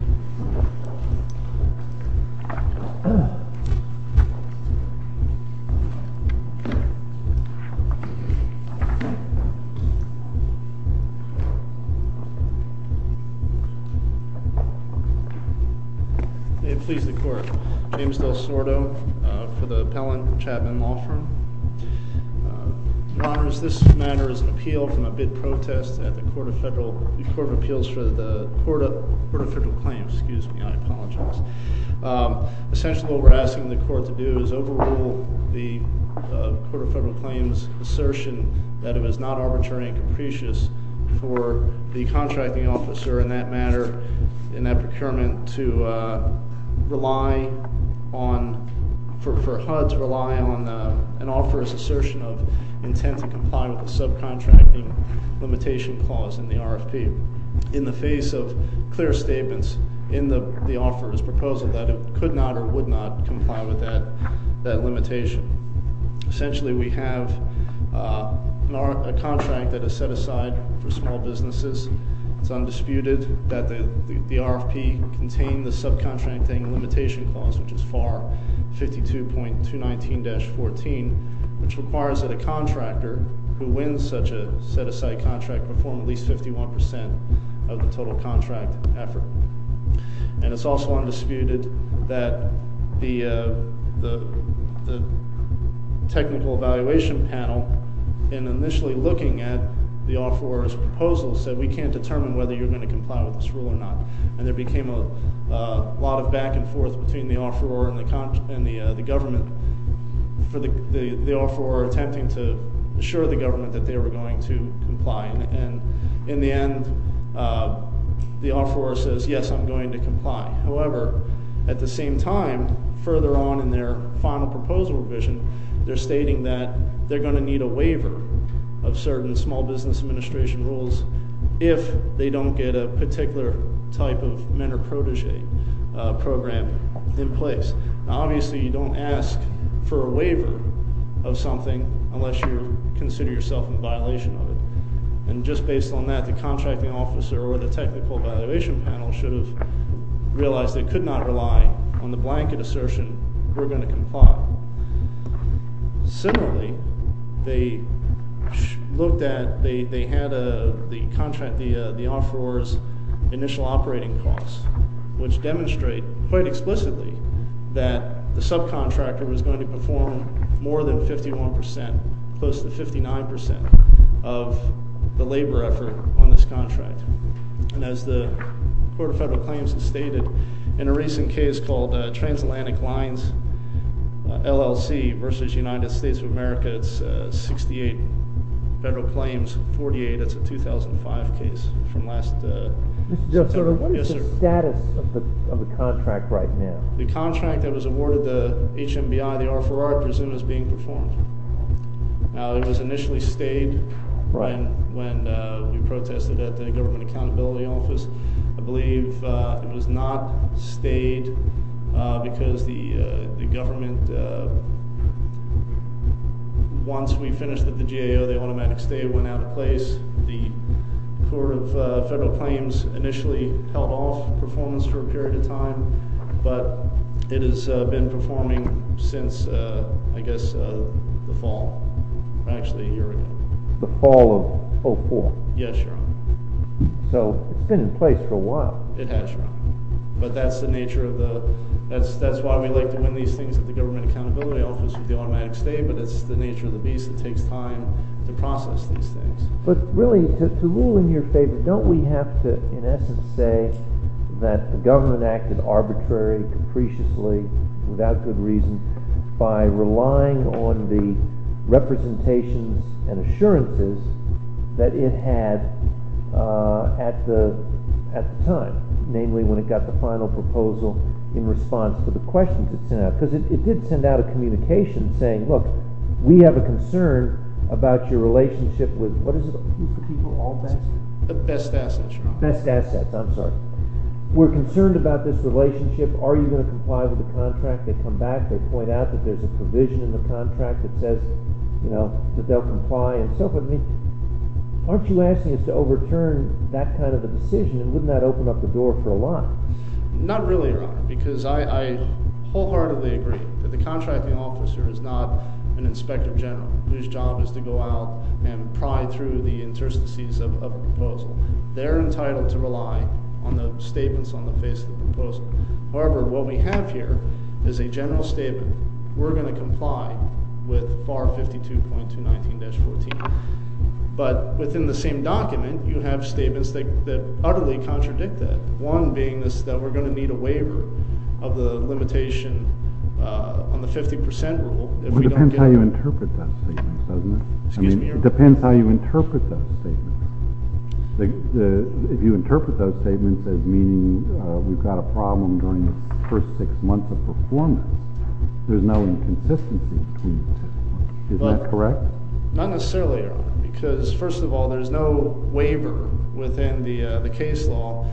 May it please the Court, James Del Sordo for the appellant, Chapman Law Firm. Your Honors, this matter is an appeal from a bid protest at the Court of Appeals for the Court of Federal Claims. Excuse me, I apologize. Essentially what we're asking the Court to do is overrule the Court of Federal Claims' assertion that it was not arbitrary and capricious for the contracting officer in that matter, in that procurement, to rely on, for HUD to rely on an offeror's assertion of intent to comply with the subcontracting limitation clause in the RFP. In the face of clear statements in the offeror's proposal that it could not or would not comply with that limitation. Essentially we have a contract that is set aside for small businesses. It's undisputed that the RFP contained the subcontracting limitation clause, which is FAR 52.219-14, which requires that a contractor who wins such a set-aside contract perform at least 51% of the total contract effort. And it's also undisputed that the technical evaluation panel, in initially looking at the offeror's proposal, said, we can't determine whether you're going to comply with this rule or not. And there became a lot of back and forth between the offeror and the government for the offeror attempting to assure the government that they were going to comply. And in the end, the offeror says, yes, I'm going to comply. However, at the same time, further on in their final proposal revision, they're stating that they're going to need a waiver of certain Small Business Administration rules if they don't get a particular type of mentor-protege program in place. Now, obviously, you don't ask for a waiver of something unless you consider yourself in violation of it. And just based on that, the contracting officer or the technical evaluation panel should have realized they could not rely on the blanket assertion, Similarly, they looked at the contract, the offeror's initial operating costs, which demonstrate quite explicitly that the subcontractor was going to perform more than 51%, close to 59% of the labor effort on this contract. And as the Court of Federal Claims has stated, in a recent case called Transatlantic Lines LLC versus United States of America, it's 68 federal claims, 48. That's a 2005 case from last September. What is the status of the contract right now? The contract that was awarded to HMBI, the offeror, I presume, is being performed. Now, it was initially stayed when we protested at the Government Accountability Office. I believe it was not stayed because the government, once we finished at the GAO, the automatic stay went out of place. The Court of Federal Claims initially held off performance for a period of time, but it has been performing since, I guess, the fall, or actually a year ago. The fall of 2004? Yes, Your Honor. So it's been in place for a while. It has, Your Honor. But that's the nature of the—that's why we like to win these things at the Government Accountability Office with the automatic stay, but it's the nature of the beast that takes time to process these things. But really, to rule in your favor, don't we have to, in essence, say that the government acted arbitrary, capriciously, without good reason, by relying on the representations and assurances that it had at the time, namely when it got the final proposal in response to the questions it sent out? Because it did send out a communication saying, look, we have a concern about your relationship with—what is it? The best assets, Your Honor. Best assets. I'm sorry. We're concerned about this relationship. Are you going to comply with the contract? They come back. They point out that there's a provision in the contract that says that they'll comply and so forth. I mean, aren't you asking us to overturn that kind of a decision, and wouldn't that open up the door for a lot? Not really, Your Honor, because I wholeheartedly agree that the contracting officer is not an inspector general whose job is to go out and pry through the interstices of a proposal. They're entitled to rely on the statements on the face of the proposal. However, what we have here is a general statement. We're going to comply with FAR 52.219-14. But within the same document, you have statements that utterly contradict that, one being that we're going to need a waiver of the limitation on the 50 percent rule. It depends how you interpret those statements, doesn't it? Excuse me, Your Honor. It depends how you interpret those statements. If you interpret those statements as meaning we've got a problem during the first six months of performance, there's no inconsistency between the two. Isn't that correct? Not necessarily, Your Honor, because, first of all, there's no waiver within the case law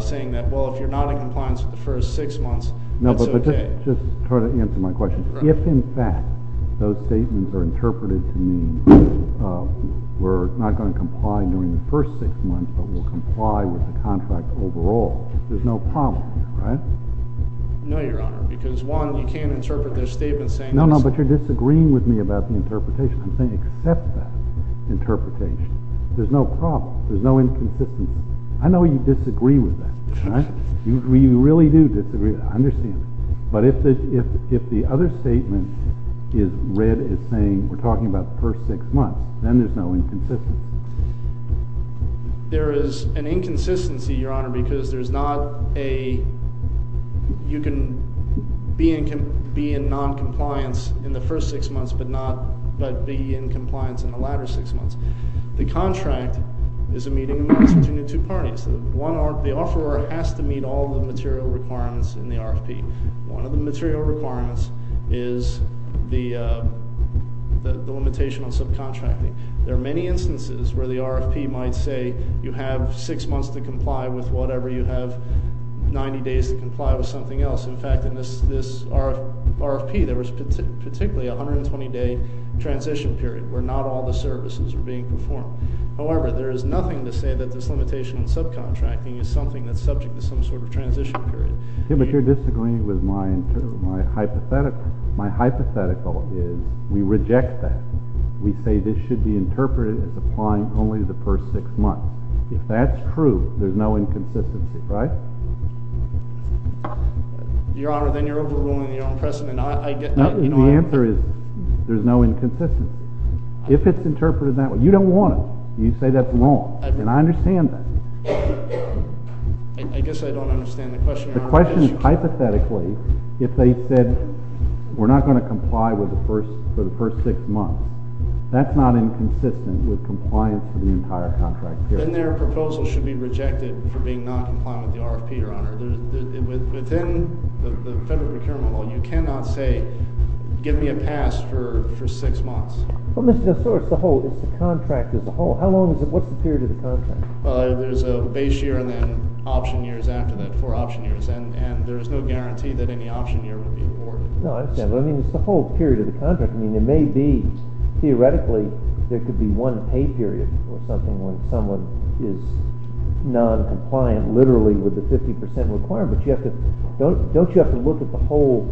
saying that, well, if you're not in compliance for the first six months, it's OK. No, but just try to answer my question. If, in fact, those statements are interpreted to mean we're not going to comply during the first six months, but we'll comply with the contract overall, there's no problem, right? No, Your Honor, because, one, you can't interpret their statements saying this. No, no, but you're disagreeing with me about the interpretation. I'm saying accept that interpretation. There's no problem. There's no inconsistency. I know you disagree with that. You really do disagree with that. I understand that. But if the other statement is read as saying we're talking about the first six months, then there's no inconsistency. There is an inconsistency, Your Honor, because there's not a, you can be in noncompliance in the first six months, but be in compliance in the latter six months. The contract is a meeting between the two parties. The offeror has to meet all the material requirements in the RFP. One of the material requirements is the limitation on subcontracting. There are many instances where the RFP might say you have six months to comply with whatever, you have 90 days to comply with something else. In fact, in this RFP, there was particularly a 120-day transition period where not all the services were being performed. However, there is nothing to say that this limitation on subcontracting is something that's subject to some sort of transition period. Okay, but you're disagreeing with my hypothetical. My hypothetical is we reject that. We say this should be interpreted as applying only to the first six months. If that's true, there's no inconsistency, right? Your Honor, then you're overruling the President. The answer is there's no inconsistency. If it's interpreted that way, you don't want it. You say that's wrong, and I understand that. I guess I don't understand the question. The question is hypothetically if they said we're not going to comply for the first six months. That's not inconsistent with compliance for the entire contract period. Then their proposal should be rejected for being noncompliant with the RFP, Your Honor. Within the Federal Procurement Law, you cannot say give me a pass for six months. Well, Mr. DeSource, the whole contract is a whole. How long is it? What's the period of the contract? Well, there's a base year and then option years after that for option years. And there's no guarantee that any option year would be afforded. No, I understand. But I mean it's the whole period of the contract. I mean there may be theoretically there could be one pay period or something when someone is noncompliant literally with the 50% requirement. Don't you have to look at the whole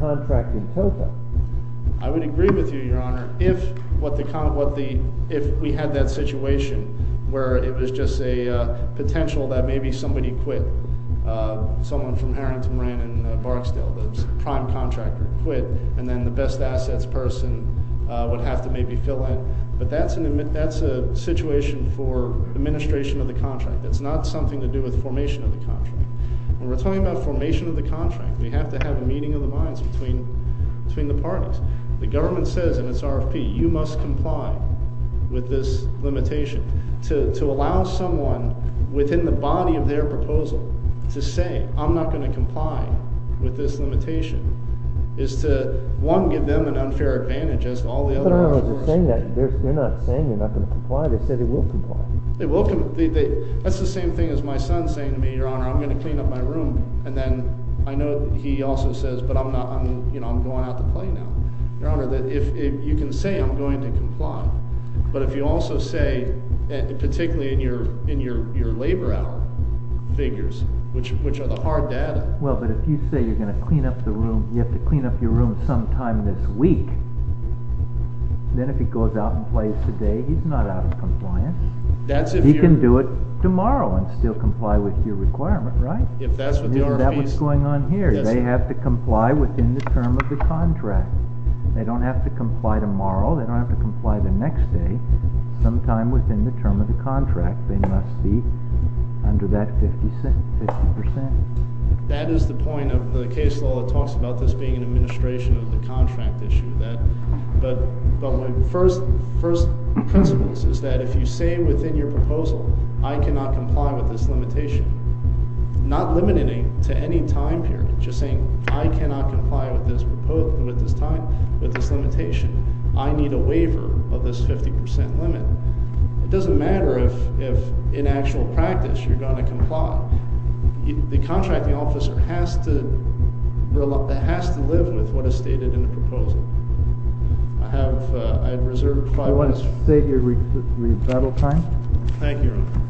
contract in total? I would agree with you, Your Honor. If we had that situation where it was just a potential that maybe somebody quit, someone from Harrington, Marin, and Barksdale, the prime contractor quit, and then the best assets person would have to maybe fill in. But that's a situation for administration of the contract. It's not something to do with formation of the contract. When we're talking about formation of the contract, we have to have a meeting of the minds between the parties. The government says, and it's RFP, you must comply with this limitation. To allow someone within the body of their proposal to say, I'm not going to comply with this limitation, is to, one, give them an unfair advantage as to all the other options. But, Your Honor, they're saying that. They're not saying they're not going to comply. They said they will comply. They will comply. That's the same thing as my son saying to me, Your Honor, I'm going to clean up my room. And then I know he also says, but I'm going out to play now. Your Honor, you can say I'm going to comply, but if you also say, particularly in your labor hour figures, which are the hard data. Well, but if you say you're going to clean up the room, you have to clean up your room sometime this week, then if he goes out and plays today, he's not out of compliance. He can do it tomorrow and still comply with your requirement, right? If that's what the RFP is. That's what's going on here. They have to comply within the term of the contract. They don't have to comply tomorrow. They don't have to comply the next day. Sometime within the term of the contract, they must be under that 50%. That is the point of the case law that talks about this being an administration of the contract issue. But my first principles is that if you say within your proposal, I cannot comply with this limitation, not limiting to any time period, just saying I cannot comply with this time, with this limitation. I need a waiver of this 50% limit. It doesn't matter if in actual practice you're going to comply. The contracting officer has to live with what is stated in the proposal. I have reserved five minutes. Let's save your rebuttal time. Thank you, Your Honor.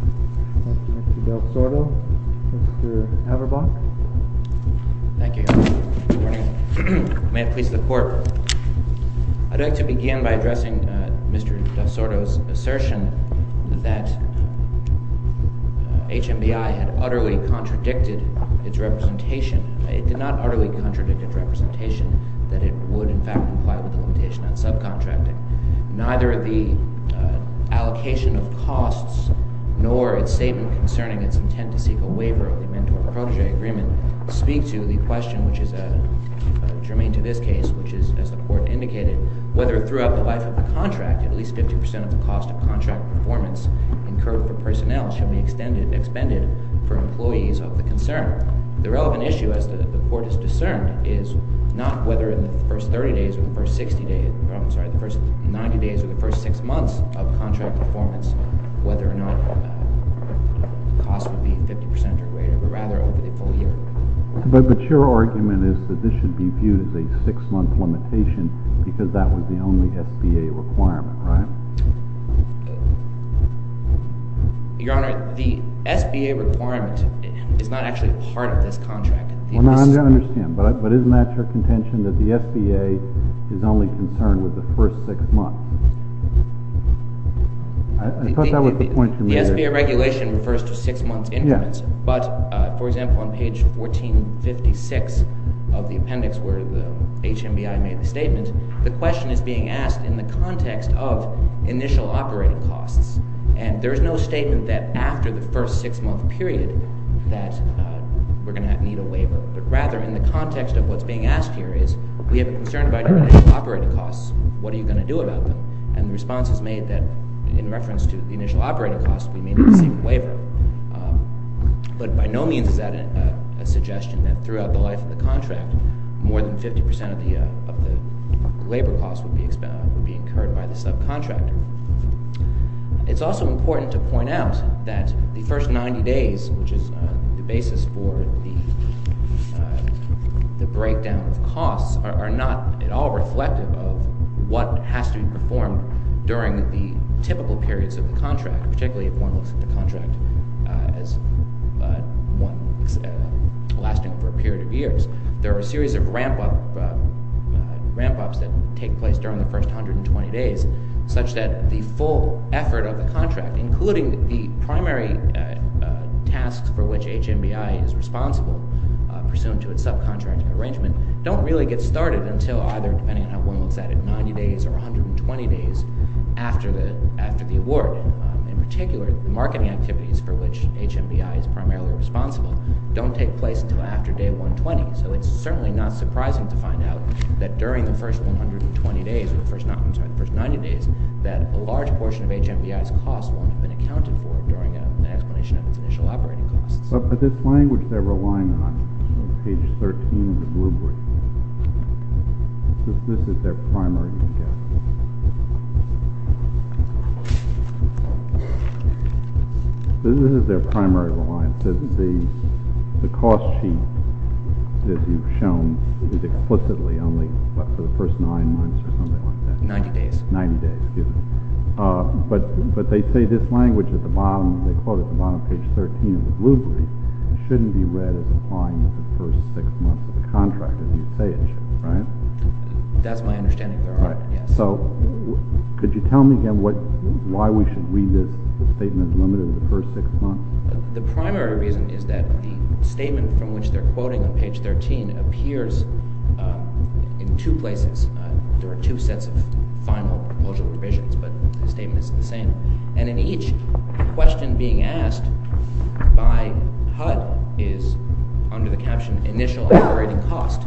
Mr. Del Sordo. Mr. Haberbach. Thank you, Your Honor. Good morning. May it please the Court. I'd like to begin by addressing Mr. Del Sordo's assertion that HMBI had utterly contradicted its representation. It did not utterly contradict its representation that it would, in fact, comply with the limitation on subcontracting. Neither the allocation of costs nor its statement concerning its intent to seek a waiver of the mentor-protege agreement speak to the question, which is germane to this case, which is, as the Court indicated, whether throughout the life of the contract at least 50% of the cost of contract performance incurred per personnel should be extended and expended for employees of the concern. The relevant issue, as the Court has discerned, is not whether in the first 30 days or the first 60 days I'm sorry, the first 90 days or the first 6 months of contract performance, whether or not the cost would be 50% or greater, but rather over the full year. But your argument is that this should be viewed as a 6-month limitation because that was the only SBA requirement, right? Your Honor, the SBA requirement is not actually part of this contract. Well, no, I understand, but isn't that your contention that the SBA is only concerned with the first 6 months? I thought that was the point you were making. The SBA regulation refers to 6-month increments. But, for example, on page 1456 of the appendix where the HMBI made the statement, the question is being asked in the context of initial operating costs. And there is no statement that after the first 6-month period that we're going to need a waiver. But rather in the context of what's being asked here is we have a concern about operating costs. What are you going to do about them? And the response is made that in reference to the initial operating costs, we may not receive a waiver. But by no means is that a suggestion that throughout the life of the contract, more than 50% of the labor costs would be incurred by the subcontractor. It's also important to point out that the first 90 days, which is the basis for the breakdown of costs, are not at all reflective of what has to be performed during the typical periods of the contract, particularly if one looks at the contract as one lasting for a period of years. There are a series of ramp-ups that take place during the first 120 days such that the full effort of the contract, including the primary tasks for which HMBI is responsible pursuant to its subcontracting arrangement, don't really get started until either, depending on how one looks at it, 90 days or 120 days after the award. In particular, the marketing activities for which HMBI is primarily responsible don't take place until after day 120. So it's certainly not surprising to find out that during the first 120 days or the first 90 days that a large portion of HMBI's costs won't have been accounted for during an explanation of its initial operating costs. But this language they're relying on, on page 13 of the blue brief, this is their primary reliance. The cost sheet that you've shown is explicitly only for the first nine months or something like that. Ninety days. Ninety days, yes. But they say this language at the bottom, they quote at the bottom of page 13 of the blue brief, shouldn't be read as applying to the first six months of the contract, as you say it should, right? That's my understanding, Your Honor. So could you tell me again why we should read this statement as limited to the first six months? The primary reason is that the statement from which they're quoting on page 13 appears in two places. There are two sets of final proposal provisions, but the statement is the same. And in each question being asked by HUD is under the caption initial operating cost,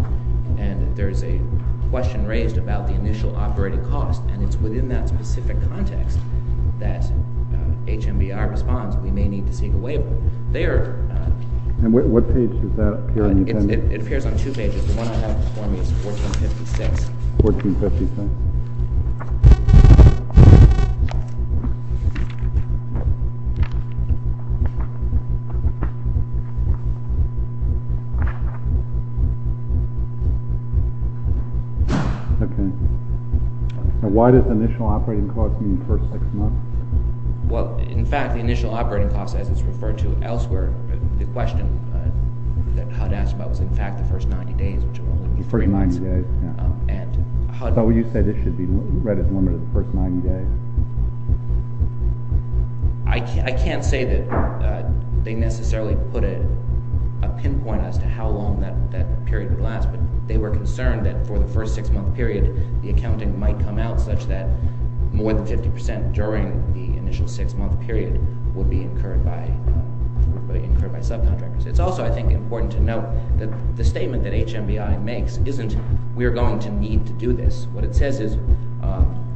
and there is a question raised about the initial operating cost, and it's within that specific context that HMBI responds we may need to seek a waiver. And what page does that appear on? It appears on two pages. The one I have before me is 1456. 1456. Okay. And why does initial operating cost mean first six months? Well, in fact, the initial operating cost, as it's referred to elsewhere, the question that HUD asked about was, in fact, the first 90 days, which will only be three months. The first 90 days, yeah. And HUD— So you say this should be read as limited to the first 90 days. I can't say that they necessarily put a pinpoint as to how long that period would last, but they were concerned that for the first six-month period, the accounting might come out such that more than 50 percent during the initial six-month period would be incurred by subcontractors. It's also, I think, important to note that the statement that HMBI makes isn't we're going to need to do this. What it says is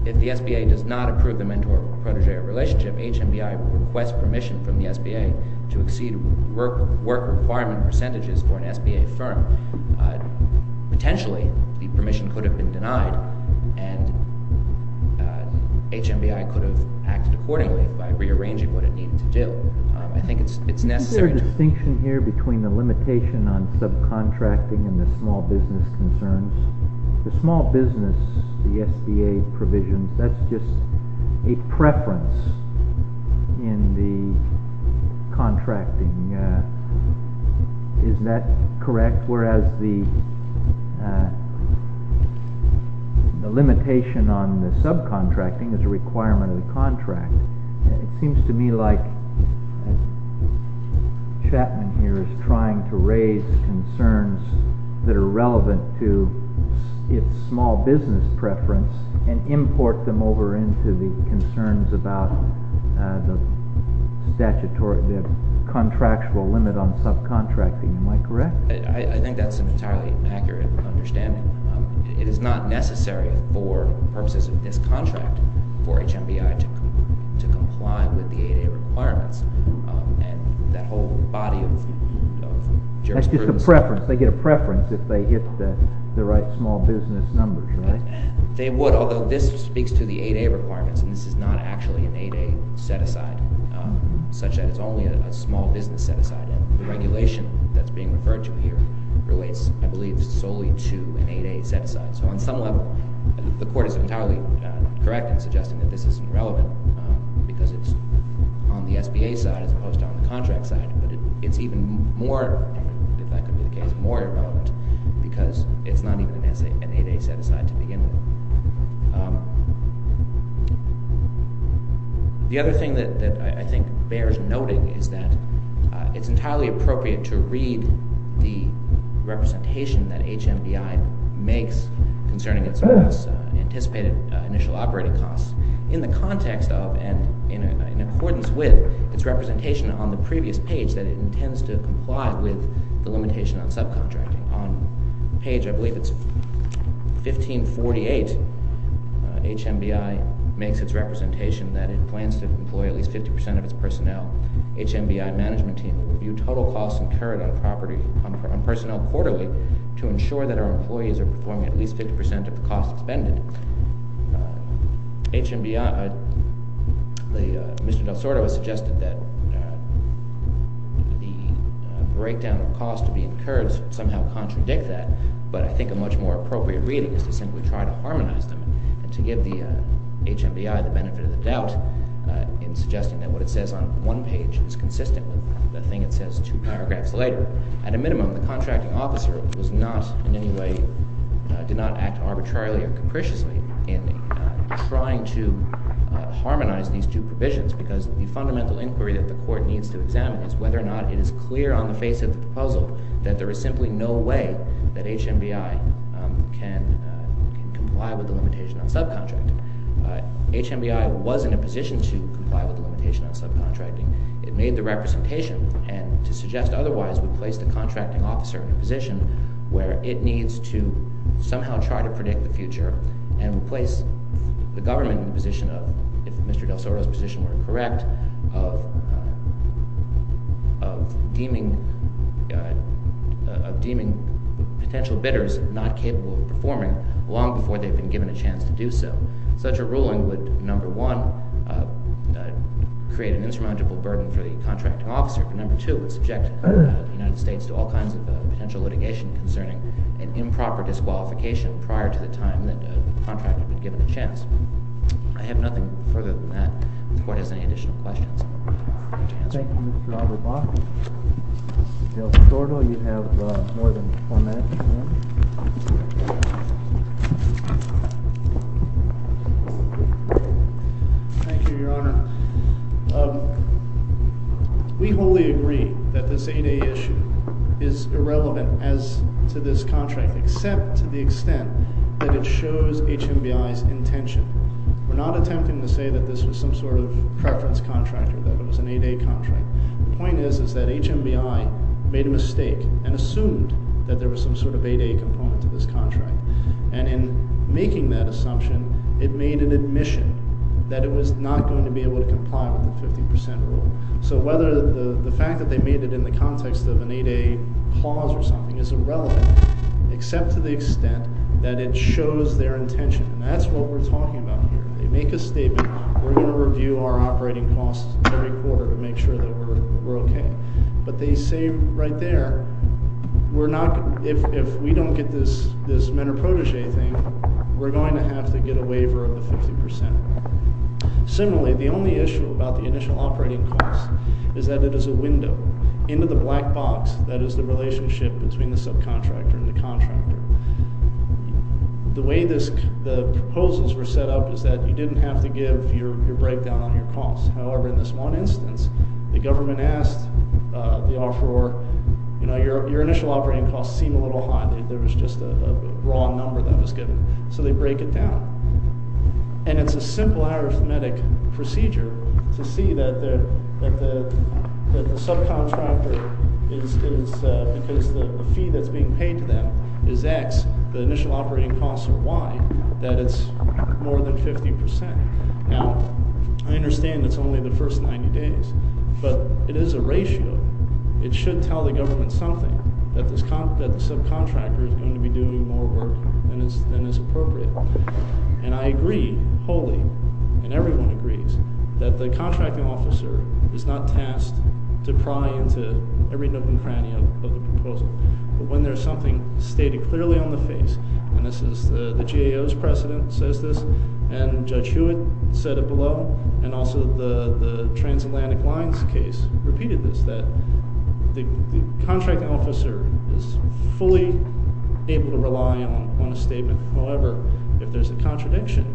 if the SBA does not approve the mentor-protege relationship, HMBI requests permission from the SBA to exceed work requirement percentages for an SBA firm. And HMBI could have acted accordingly by rearranging what it needed to do. I think it's necessary to— Is there a distinction here between the limitation on subcontracting and the small business concerns? The small business, the SBA provision, that's just a preference in the contracting. Isn't that correct? Whereas the limitation on the subcontracting is a requirement of the contract. It seems to me like Chapman here is trying to raise concerns that are relevant to its small business preference and import them over into the concerns about the contractual limit on subcontracting. Am I correct? I think that's an entirely accurate understanding. It is not necessary for purposes of this contract for HMBI to comply with the 8A requirements. And that whole body of jurisprudence— That's just a preference. They get a preference if they hit the right small business numbers, right? They would, although this speaks to the 8A requirements. And this is not actually an 8A set-aside, such that it's only a small business set-aside. And the regulation that's being referred to here relates, I believe, solely to an 8A set-aside. So on some level, the court is entirely correct in suggesting that this is irrelevant because it's on the SBA side as opposed to on the contract side. But it's even more—if that could be the case—more irrelevant because it's not even an 8A set-aside to begin with. The other thing that I think bears noting is that it's entirely appropriate to read the representation that HMBI makes concerning its anticipated initial operating costs in the context of and in accordance with its representation on the previous page that it intends to comply with the limitation on subcontracting. On page, I believe it's 1548, HMBI makes its representation that it plans to employ at least 50% of its personnel. HMBI management team will review total costs incurred on personnel quarterly to ensure that our employees are performing at least 50% of the costs expended. HMBI—Mr. Del Sordo has suggested that the breakdown of costs to be incurred somehow contradict that, but I think a much more appropriate reading is to simply try to harmonize them and to give the HMBI the benefit of the doubt in suggesting that what it says on one page is consistent with the thing it says two paragraphs later. At a minimum, the contracting officer did not act arbitrarily or capriciously in trying to harmonize these two provisions because the fundamental inquiry that the court needs to examine is whether or not it is clear on the face of the proposal that there is simply no way that HMBI can comply with the limitation on subcontracting. HMBI was in a position to comply with the limitation on subcontracting. It made the representation, and to suggest otherwise, would place the contracting officer in a position where it needs to somehow try to predict the future and replace the government in the position of— if Mr. Del Sordo's position were correct—of deeming potential bidders not capable of performing long before they've been given a chance to do so. Such a ruling would, number one, create an insurmountable burden for the contracting officer, but number two, would subject the United States to all kinds of potential litigation concerning an improper disqualification prior to the time that the contractor would give it a chance. I have nothing further than that if the court has any additional questions. Thank you, Mr. Auerbach. Mr. Del Sordo, you have more than four minutes. Thank you, Your Honor. We wholly agree that this 8A issue is irrelevant as to this contract, except to the extent that it shows HMBI's intention. We're not attempting to say that this was some sort of preference contractor, that it was an 8A contract. The point is that HMBI made a mistake and assumed that there was some sort of 8A component to this contract. And in making that assumption, it made an admission that it was not going to be able to comply with the 50% rule. So whether the fact that they made it in the context of an 8A clause or something is irrelevant, except to the extent that it shows their intention. And that's what we're talking about here. They make a statement, we're going to review our operating costs every quarter to make sure that we're okay. But they say right there, if we don't get this men are protege thing, we're going to have to get a waiver of the 50%. Similarly, the only issue about the initial operating cost is that it is a window into the black box that is the relationship between the subcontractor and the contractor. The way the proposals were set up is that you didn't have to give your breakdown on your costs. However, in this one instance, the government asked the offeror, you know, your initial operating costs seem a little high. There was just a raw number that was given. So they break it down. And it's a simple arithmetic procedure to see that the subcontractor is, because the fee that's being paid to them is X, the initial operating costs are Y, that it's more than 50%. Now, I understand it's only the first 90 days, but it is a ratio. It should tell the government something, that the subcontractor is going to be doing more work than is appropriate. And I agree wholly, and everyone agrees, that the contracting officer is not tasked to pry into every nook and cranny of the proposal. But when there's something stated clearly on the face, and this is the GAO's precedent says this, and Judge Hewitt said it below, and also the Transatlantic Lines case repeated this, that the contracting officer is fully able to rely on a statement. However, if there's a contradiction,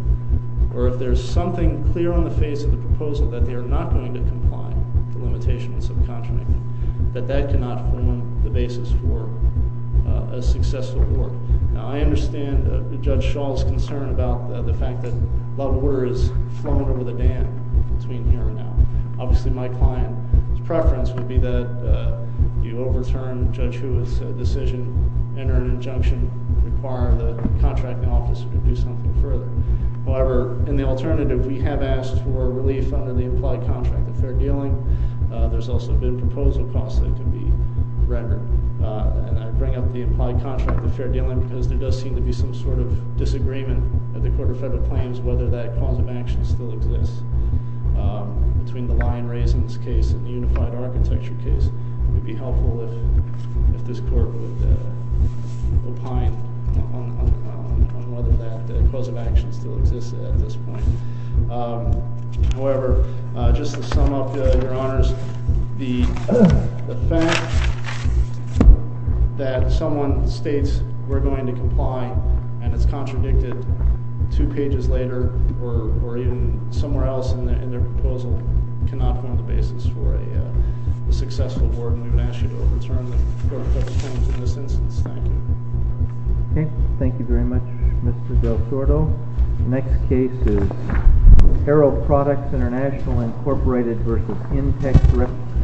or if there's something clear on the face of the proposal, that they are not going to comply with the limitations of subcontracting, that that cannot form the basis for a successful work. Now, I understand Judge Schall's concern about the fact that a lot of water is flowing over the dam between here and now. Obviously, my client's preference would be that you overturn Judge Hewitt's decision, enter an injunction, require the contracting officer to do something further. However, in the alternative, we have asked for relief under the implied contract of fair dealing. There's also been proposal costs that could be rendered. And I bring up the implied contract of fair dealing because there does seem to be some sort of disagreement at the Court of Federal Claims whether that cause of action still exists. Between the Lion-Raising case and the Unified Architecture case, it would be helpful if this Court would opine on whether that cause of action still exists at this point. However, just to sum up, Your Honors, the fact that someone states, we're going to comply, and it's contradicted two pages later, or even somewhere else in their proposal, cannot form the basis for a successful board, and we would ask you to overturn the Court of Federal Claims in this instance. Thank you. Okay. Thank you very much, Mr. Del Sordo. The next case is Arrow Products International, Incorporated v. Intex Records.